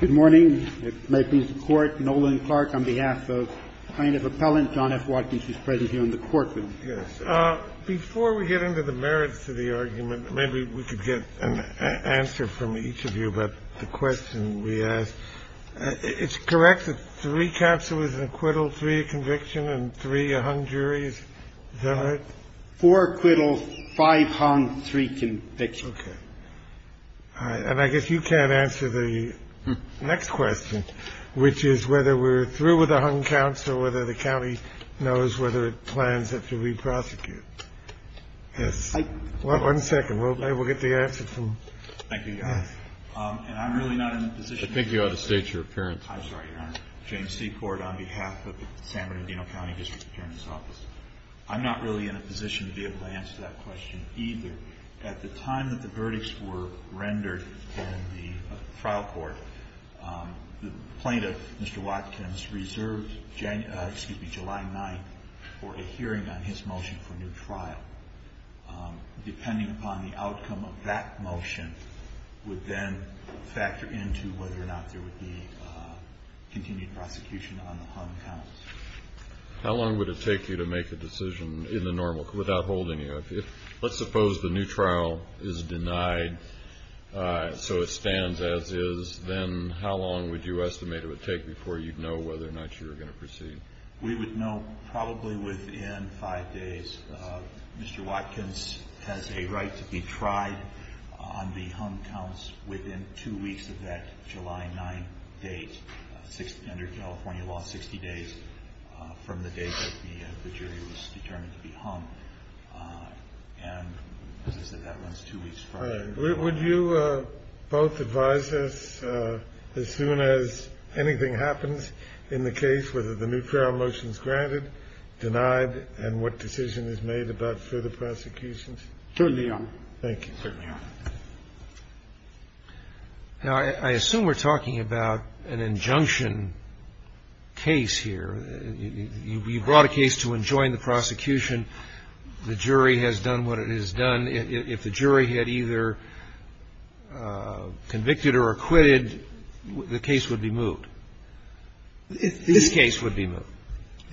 Good morning. It may please the Court. Nolan Clark on behalf of plaintiff appellant John F. Watkins is present here in the courtroom. Yes. Before we get into the merits of the argument, maybe we could get an answer from each of you about the question we asked. It's correct that three capsule is an acquittal, three a conviction and three hung juries. Four acquittals, five hung, three convictions. OK. And I guess you can't answer the next question, which is whether we're through with a hung counsel, whether the county knows whether it plans to reprosecute this. I want one second. Well, maybe we'll get the answer. Thank you. And I'm really not in a position to think you ought to state your parents. I'm sorry. James Seaport on behalf of San Bernardino County District Attorney's Office. I'm not really in a position to be able to answer that question either. At the time that the verdicts were rendered in the trial court, the plaintiff, Mr. Watkins, reserved July 9th for a hearing on his motion for new trial. Depending upon the outcome of that motion would then factor into whether or not there would be continued prosecution on the hung counts. How long would it take you to make a decision in the normal, without holding you? Let's suppose the new trial is denied so it stands as is. Then how long would you estimate it would take before you'd know whether or not you were going to proceed? We would know probably within five days. Mr. Watkins has a right to be tried on the hung counts within two weeks of that July 9th date. Under California law, 60 days from the date that the jury was determined to be hung. And as I said, that runs two weeks prior. All right. Would you both advise us as soon as anything happens in the case, whether the new trial motion is granted, denied, and what decision is made about further prosecutions? Certainly, Your Honor. Thank you. Now, I assume we're talking about an injunction case here. You brought a case to enjoin the prosecution. The jury has done what it has done. If the jury had either convicted or acquitted, the case would be moved. This case would be moved.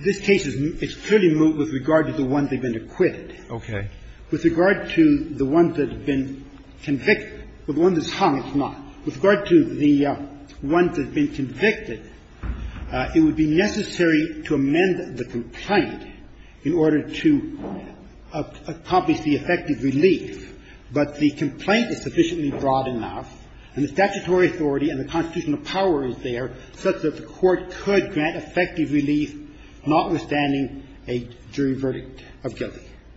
This case is clearly moved with regard to the ones that have been acquitted. Okay. With regard to the ones that have been convicted or the ones that's hung, it's not. With regard to the ones that have been convicted, it would be necessary to amend the complaint in order to accomplish the effective relief. But the complaint is sufficiently broad enough, and the statutory authority and the constitutional power is there such that the Court could grant effective relief notwithstanding a jury verdict of guilt.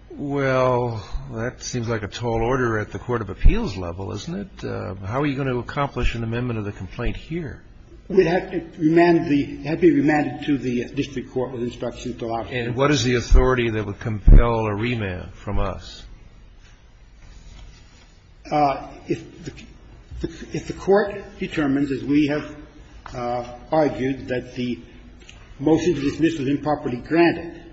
Well, that seems like a tall order at the court of appeals level, isn't it? How are you going to accomplish an amendment of the complaint here? It would have to remand the – it would have to be remanded to the district court with instructions to allow it to be remanded. And what is the authority that would compel a remand from us? If the Court determines, as we have argued, that the motion to dismiss is improperly We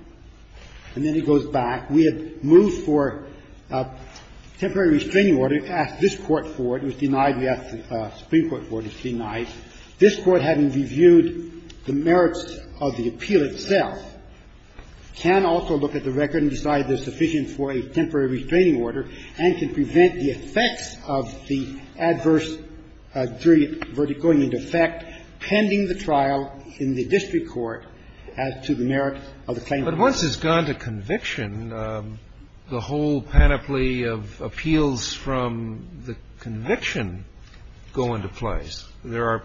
had moved for a temporary restraining order. We asked this Court for it. It was denied. We asked the Supreme Court for it. It was denied. This Court, having reviewed the merits of the appeal itself, can also look at the record and decide there's sufficient for a temporary restraining order and can prevent the effects of the adverse jury verdict going into effect pending the trial in the district court as to the merit of the claim. But once it's gone to conviction, the whole panoply of appeals from the conviction go into place. There are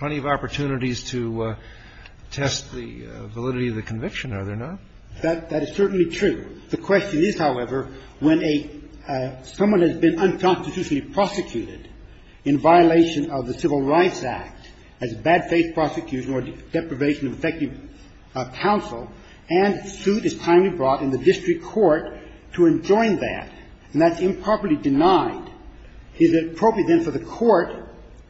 plenty of opportunities to test the validity of the conviction, are there not? That is certainly true. The question is, however, when a – someone has been unconstitutionally prosecuted in violation of the Civil Rights Act as a bad faith prosecution or deprivation of effective counsel, and a suit is timely brought in the district court to enjoin that, and that's improperly denied, is it appropriate, then, for the Court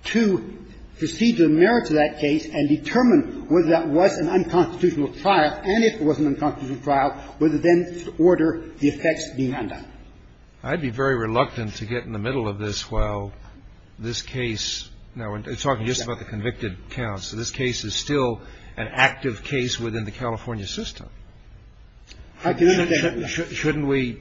to proceed to the merits of that case and determine whether that was an unconstitutional trial, and if it was an unconstitutional trial, whether, then, to order the effects being undone? I'd be very reluctant to get in the middle of this while this case – now, we're talking about a case that is still an active case within the California system. I can understand that. Shouldn't we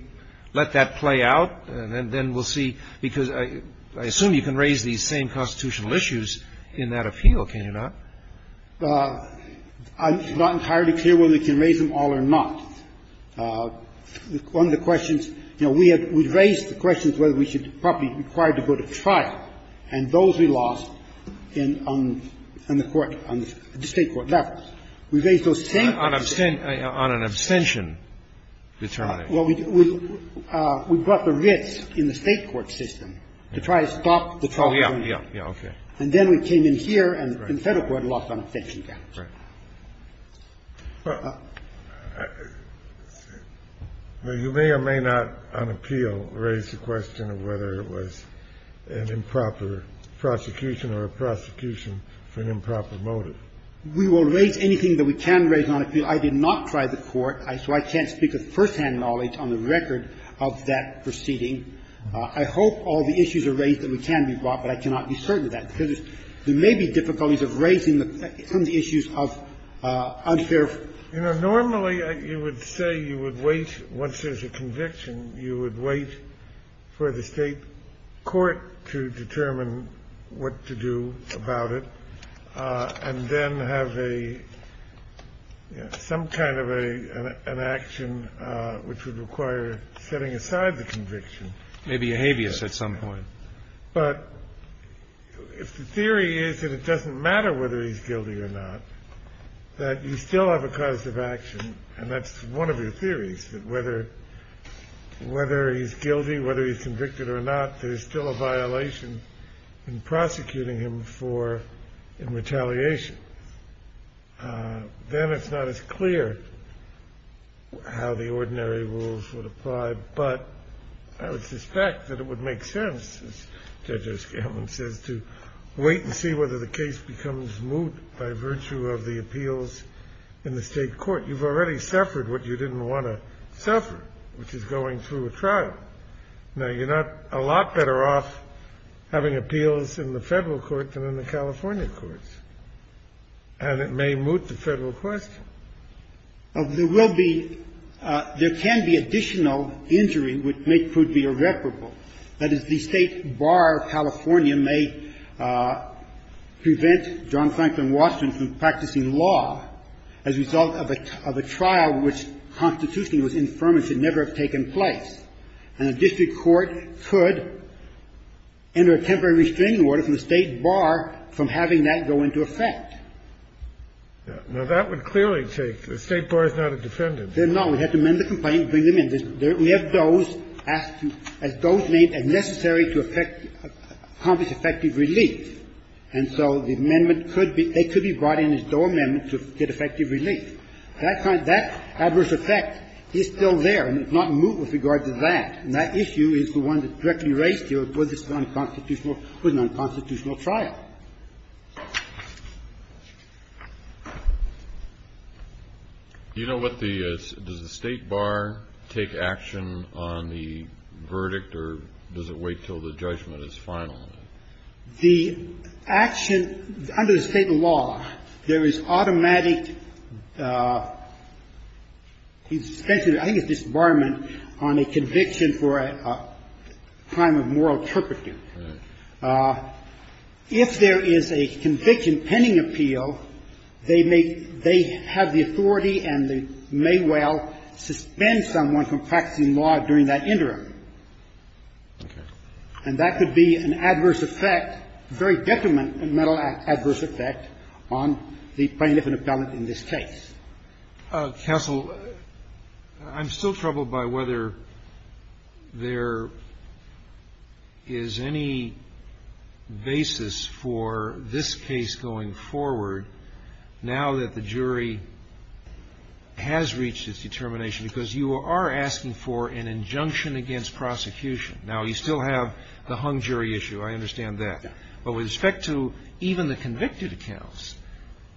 let that play out, and then we'll see? Because I assume you can raise these same constitutional issues in that appeal, can you not? I'm not entirely clear whether we can raise them all or not. One of the questions – you know, we have – we've raised the questions whether we should – probably required to go to trial, and those we lost in – on the court – on the State court levels. We raised those same questions. On an abstention determination. Well, we brought the writs in the State court system to try to stop the trial. Oh, yeah, yeah, yeah, okay. And then we came in here and the Federal court lost on abstention counts. Right. Well, you may or may not, on appeal, raise the question of whether it was an improper prosecution or a prosecution for an improper motive. We will raise anything that we can raise on appeal. I did not try the court, so I can't speak with firsthand knowledge on the record of that proceeding. I hope all the issues are raised that we can be brought, but I cannot be certain of that, because there may be difficulties of raising some of the issues of unfair. You know, normally, you would say you would wait – once there's a conviction, you would wait for the State court to determine what to do about it, and then have a – some kind of an action which would require setting aside the conviction. Maybe a habeas at some point. But if the theory is that it doesn't matter whether he's guilty or not, that you still have a cause of action, and that's one of your theories, that whether he's guilty, whether he's convicted or not, there's still a violation in prosecuting him for retaliation, then it's not as clear how the ordinary rules would apply. But I would suspect that it would make sense, as Judge O'Scanlan says, to wait and see whether the case becomes moot by virtue of the appeals in the State court. You've already suffered what you didn't want to suffer, which is going through a trial. Now, you're not a lot better off having appeals in the Federal court than in the California courts, and it may moot the Federal question. Now, there will be – there can be additional injury which may prove to be irreparable. That is, the State bar of California may prevent John Franklin Washington from practicing law as a result of a trial which constitutionally was infirm and should never have taken place, and a district court could enter a temporary restraining order from the State bar from having that go into effect. Now, that would clearly take – the State bar is not a defendant. No. We have to amend the complaint and bring them in. We have Doe's asked to, as Doe's named, as necessary to effect – accomplish effective relief. And so the amendment could be – they could be brought in as Doe amendments to get effective relief. That kind of – that adverse effect is still there, and it's not moot with regard to that. And that issue is the one that's directly raised here with this unconstitutional – with an unconstitutional trial. Kennedy. Do you know what the – does the State bar take action on the verdict, or does it wait until the judgment is final? The action – under the State law, there is automatic – I think it's disbarment on a conviction for a crime of moral turpitude. Right. If there is a conviction pending appeal, they may – they have the authority and they may well suspend someone from practicing law during that interim. Okay. And that could be an adverse effect, a very detrimental adverse effect on the plaintiff and appellant in this case. Counsel, I'm still troubled by whether there is any basis for this case going forward now that the jury has reached its determination, because you are asking for an injunction against prosecution. Now, you still have the hung jury issue. I understand that. But with respect to even the convicted accounts,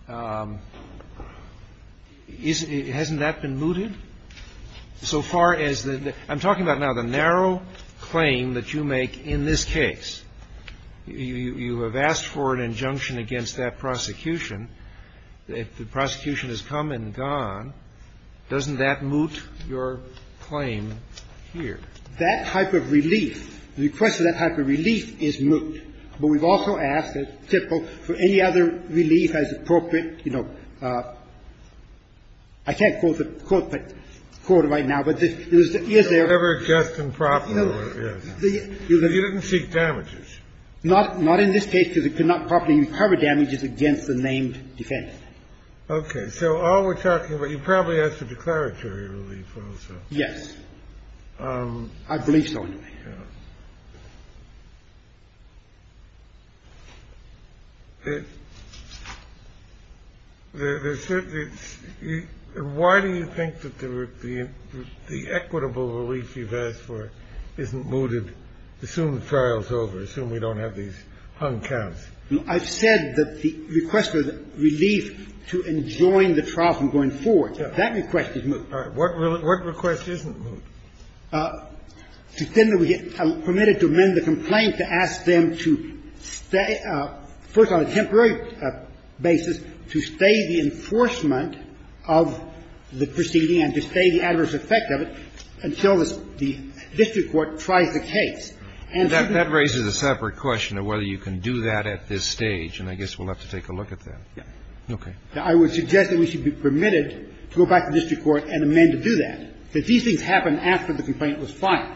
isn't – hasn't that been mooted? So far as the – I'm talking about now the narrow claim that you make in this case. You have asked for an injunction against that prosecution. The prosecution has come and gone. Doesn't that moot your claim here? That type of relief, the request for that type of relief is moot. But we've also asked, as typical, for any other relief as appropriate. You know, I can't quote the quote right now, but it was – yes, there are – It was never just and proper. You didn't seek damages. Not in this case, because it could not properly recover damages against the named defendant. Okay. So all we're talking about – you probably asked for declaratory relief also. Yes. I believe so anyway. The hung jury counts. The – why do you think that the equitable relief you've asked for isn't mooted? Assume the trial's over. Assume we don't have these hung counts. I've said that the request for relief to enjoin the trial from going forward, that request is moot. All right. What request isn't moot? Well, if the defendant gets permitted to amend the complaint, to ask them to stay – first on a temporary basis, to stay the enforcement of the proceeding and to stay the adverse effect of it until the district court tries the case. And so the – That raises a separate question of whether you can do that at this stage, and I guess we'll have to take a look at that. Yes. Okay. Now, I would suggest that we should be permitted to go back to district court and amend to do that. Did these things happen after the complaint was filed?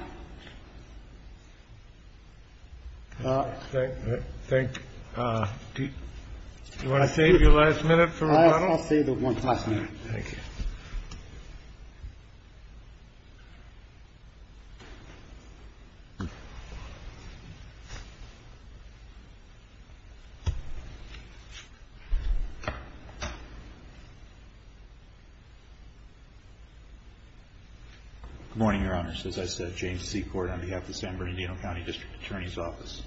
I think – do you want to save your last minute for a while? I'll save the one last minute. Thank you. Good morning, Your Honors. As I said, James Seaport on behalf of the San Bernardino County District Attorney's Office.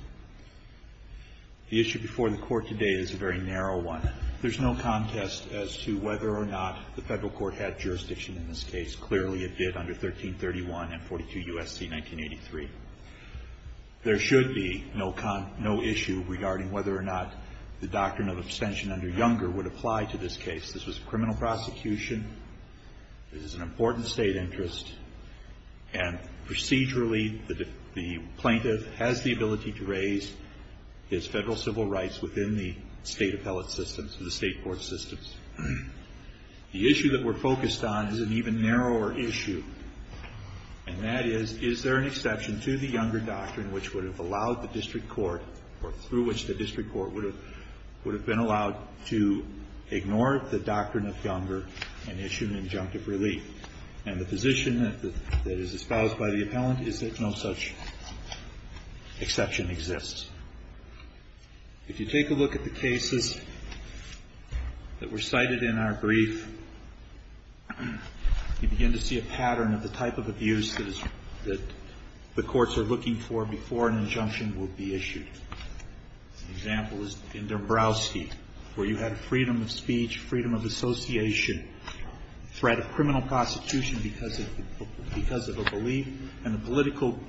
The issue before the Court today is a very narrow one. There's no contest as to whether or not the Federal court had jurisdiction in this case. Clearly, it did under 1331 and 42 U.S.C. 1983. There should be no issue regarding whether or not the doctrine of abstention under Younger would apply to this case. This was a criminal prosecution. This is an important state interest. And procedurally, the plaintiff has the ability to raise his Federal civil rights within the state appellate systems, the state court systems. The issue that we're focused on is an even narrower issue. And that is, is there an exception to the Younger doctrine which would have allowed the district court or through which the district court would have been allowed to ignore the doctrine of Younger and issue an injunctive relief? And the position that is espoused by the appellant is that no such exception exists. If you take a look at the cases that were cited in our brief, you begin to see a pattern of the type of abuse that the courts are looking for before an injunction will be issued. An example is in Dombrowski, where you had freedom of speech, freedom of association, threat of criminal prosecution because of a belief, and the political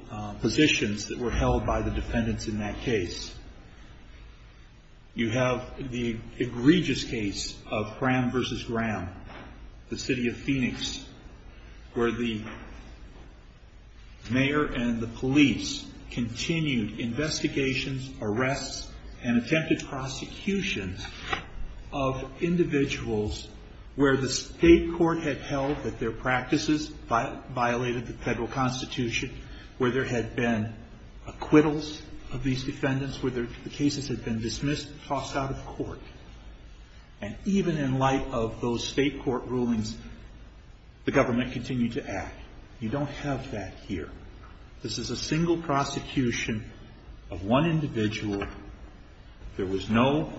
positions that were held by the defendants in that case. You have the egregious case of Graham versus Graham, the city of Phoenix, where the mayor and the police continued investigations, arrests, and attempted prosecutions of individuals where the state court had held that their practices violated the federal constitution, where there had been acquittals of these defendants, where the cases had been dismissed, tossed out of court. And even in light of those state court rulings, the government continued to act. You don't have that here. This is a single prosecution of one individual. There was no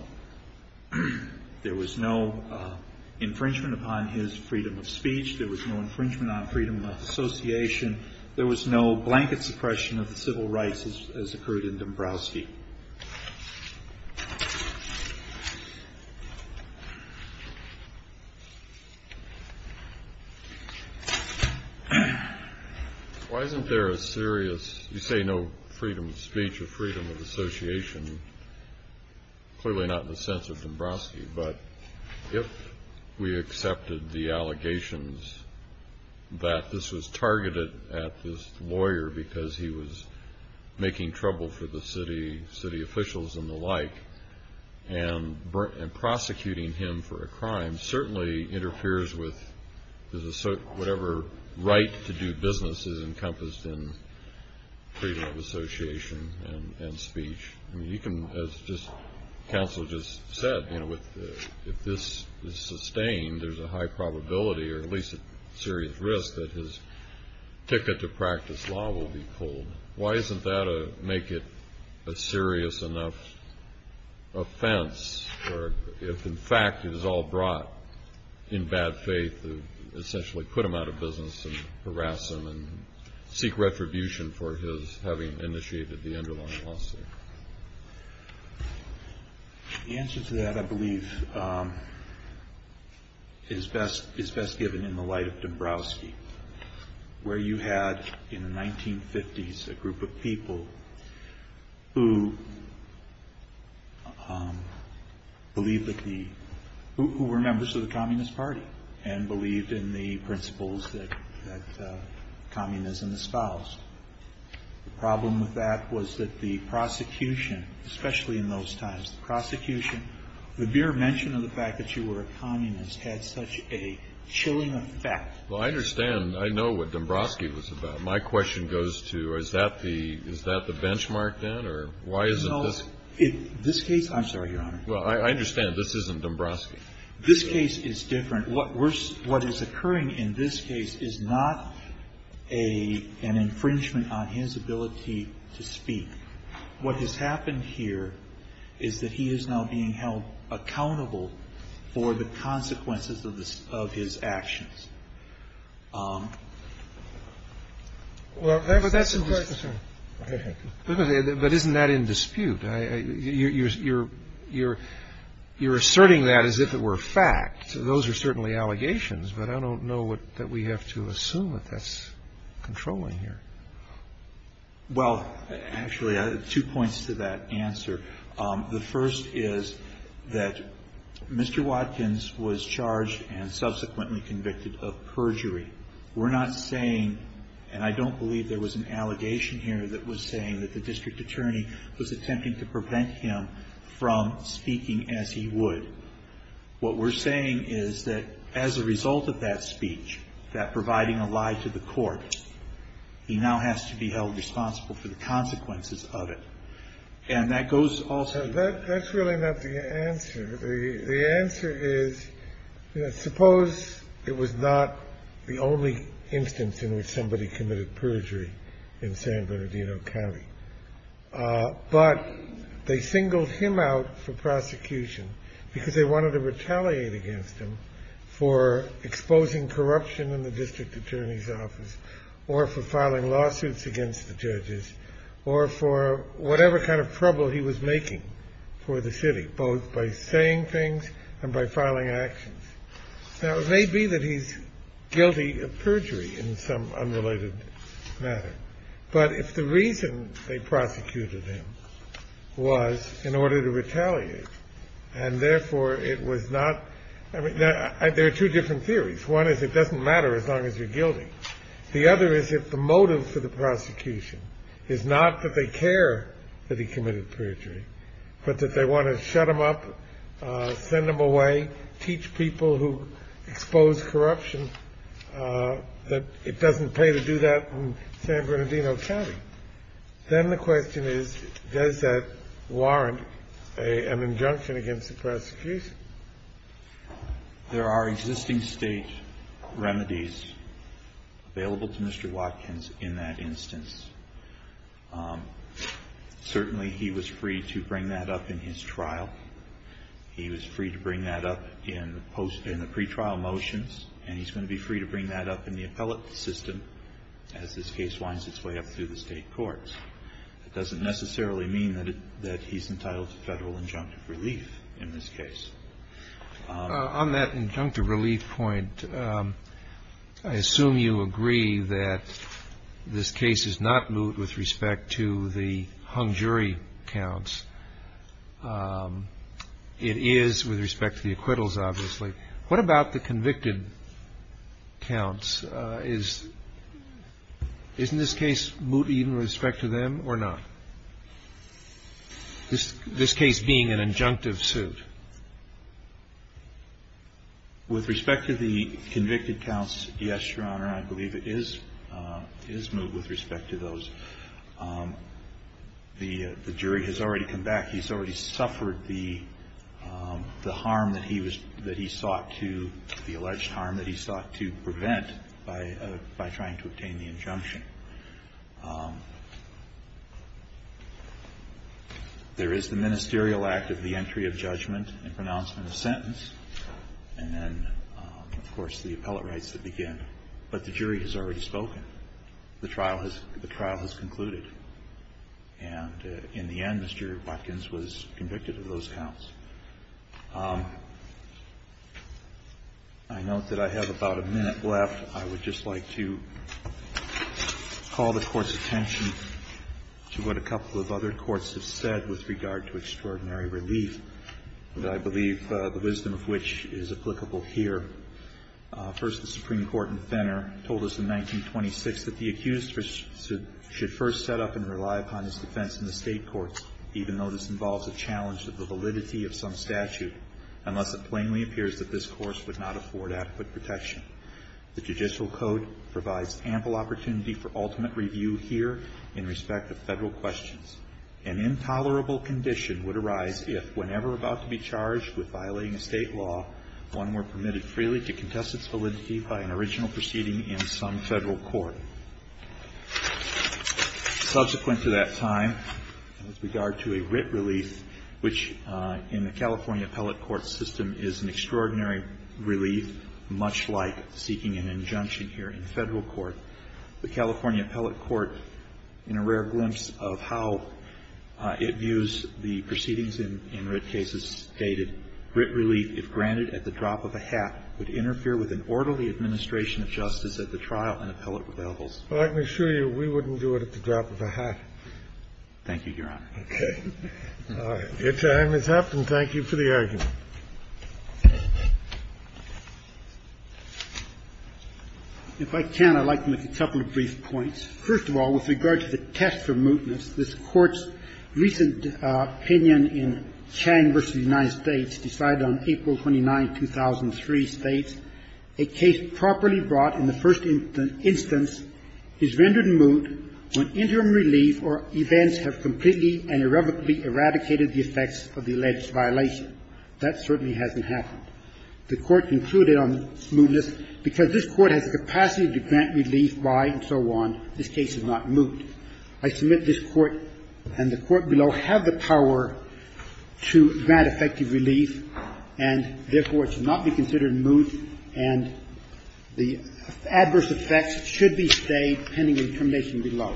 infringement upon his freedom of speech. There was no infringement on freedom of association. There was no blanket suppression of the civil rights as occurred in Dombrowski. Why isn't there a serious, you say no freedom of speech or freedom of association, clearly not in the sense of Dombrowski, but if we accepted the allegations that this was targeted at this lawyer because he was making trouble for the city, city officials and the like, and prosecuting him for a crime certainly interferes with whatever right to do business is encompassed in freedom of association and speech. You can, as counsel just said, if this is sustained, there's a high probability, or at least a serious risk, that his ticket to practice law will be pulled. Why isn't that a make it a serious enough offense, or if in fact it is all brought in bad faith to essentially put him out of business and harass him? Seek retribution for his having initiated the underlying lawsuit. The answer to that, I believe, is best given in the light of Dombrowski. Where you had in the 1950s a group of people who believed that the, who were members of the Communist Party and believed in the principles that communism espoused. The problem with that was that the prosecution, especially in those times, the prosecution, the mere mention of the fact that you were a communist had such a chilling effect. Well, I understand. I know what Dombrowski was about. My question goes to, is that the benchmark then, or why isn't this? This case, I'm sorry, Your Honor. Well, I understand this isn't Dombrowski. This case is different. What is occurring in this case is not an infringement on his ability to speak. What has happened here is that he is now being held accountable for the consequences of his actions. Well, that's a question. But isn't that in dispute? You're asserting that as if it were fact. Those are certainly allegations. But I don't know that we have to assume that that's controlling here. Well, actually, two points to that answer. The first is that Mr. Watkins was charged and subsequently convicted of perjury. We're not saying, and I don't believe there was an allegation here that was saying that the district attorney was attempting to prevent him from speaking as he would. What we're saying is that as a result of that speech, that providing a lie to the court, he now has to be held responsible for the consequences of it. And that goes also to the court. That's really not the answer. The answer is suppose it was not the only instance in which somebody committed perjury in San Bernardino County, but they singled him out for prosecution because they wanted to retaliate against him for exposing corruption in the district attorney's office or for filing lawsuits against the judges or for whatever kind of trouble he was making for the city, both by saying things and by filing actions. Now, it may be that he's guilty of perjury in some unrelated matter. But if the reason they prosecuted him was in order to retaliate, and therefore it was not – there are two different theories. One is it doesn't matter as long as you're guilty. The other is if the motive for the prosecution is not that they care that he committed perjury, but that they want to shut him up, send him away, teach people who expose corruption that it doesn't pay to do that in San Bernardino County. Then the question is, does that warrant an injunction against the prosecution? There are existing state remedies available to Mr. Watkins in that instance. Certainly, he was free to bring that up in his trial. He was free to bring that up in the pretrial motions, and he's going to be free to bring that up in the appellate system as this case winds its way up through the state courts. It doesn't necessarily mean that he's entitled to federal injunctive relief in this case. On that injunctive relief point, I assume you agree that this case is not moot with respect to the hung jury counts. It is with respect to the acquittals, obviously. What about the convicted counts? Isn't this case moot even with respect to them or not? This case being an injunctive suit. With respect to the convicted counts, yes, Your Honor. I believe it is moot with respect to those. The jury has already come back. He's already suffered the harm that he sought to, the alleged harm that he sought to prevent by trying to obtain the injunction. There is the ministerial act of the entry of judgment and pronouncement of sentence, and then, of course, the appellate rights that begin. But the jury has already spoken. The trial has concluded. And in the end, Mr. Watkins was convicted of those counts. I note that I have about a minute left. I would just like to call the Court's attention to what a couple of other Courts have said with regard to extraordinary relief, and I believe the wisdom of which is applicable here. First, the Supreme Court in Fenner told us in 1926 that the accused should first set up and rely upon his defense in the state courts, even though this involves a challenge to the validity of some statute, unless it plainly appears that this Course would not afford adequate protection. The Judicial Code provides ample opportunity for ultimate review here in respect of Federal questions. An intolerable condition would arise if, whenever about to be charged with violating a state law, one were permitted freely to contest its validity by an original proceeding in some Federal court. Subsequent to that time, with regard to a writ relief, which in the California appellate court system is an extraordinary relief, much like seeking an injunction here in Federal court, the California appellate court, in a rare glimpse of how it views the proceedings in writ cases, stated, Writ relief, if granted at the drop of a hat, would interfere with an orderly administration of justice at the trial and appellate revivals. Scalia. Well, let me assure you, we wouldn't do it at the drop of a hat. Roberts. Thank you, Your Honor. Scalia. Your time has up, and thank you for the argument. If I can, I'd like to make a couple of brief points. First of all, with regard to the test for mootness, this Court's recent opinion in Chang v. United States decided on April 29, 2003, states, A case properly brought in the first instance is rendered moot when interim relief or events have completely and irrevocably eradicated the effects of the alleged violation. That certainly hasn't happened. The Court concluded on mootness because this Court has the capacity to grant relief by and so on. This case is not moot. I submit this Court and the Court below have the power to grant effective relief and, therefore, it should not be considered moot and the adverse effects should be stayed pending the determination below.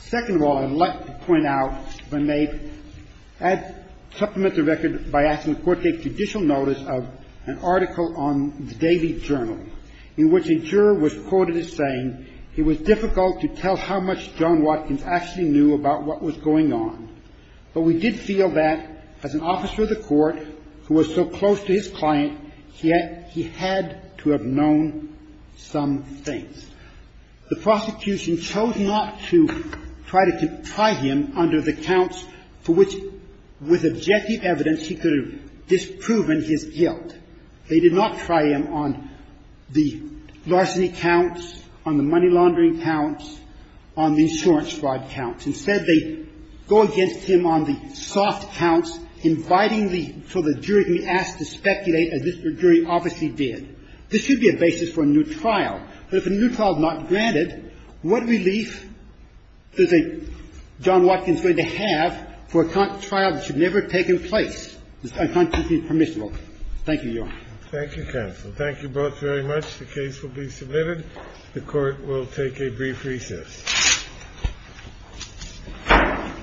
Second of all, I'd like to point out, if I may, I'd supplement the record by asking the Court to take judicial notice of an article on the Daily Journal in which a juror was quoted as saying, It was difficult to tell how much John Watkins actually knew about what was going on, but we did feel that, as an officer of the Court who was so close to his client, he had to have known some things. The prosecution chose not to try him under the counts for which, with objective evidence, he could have disproven his guilt. They did not try him on the larceny counts, on the money laundering counts, on the insurance fraud counts. Instead, they go against him on the soft counts, inviting for the jury to be asked to speculate, as this jury obviously did. This should be a basis for a new trial. But if a new trial is not granted, what relief does a John Watkins going to have for a trial that should never have taken place? This is unconstitutionally permissible. Thank you, Your Honor. Thank you, counsel. Thank you both very much. The case will be submitted. The Court will take a brief recess.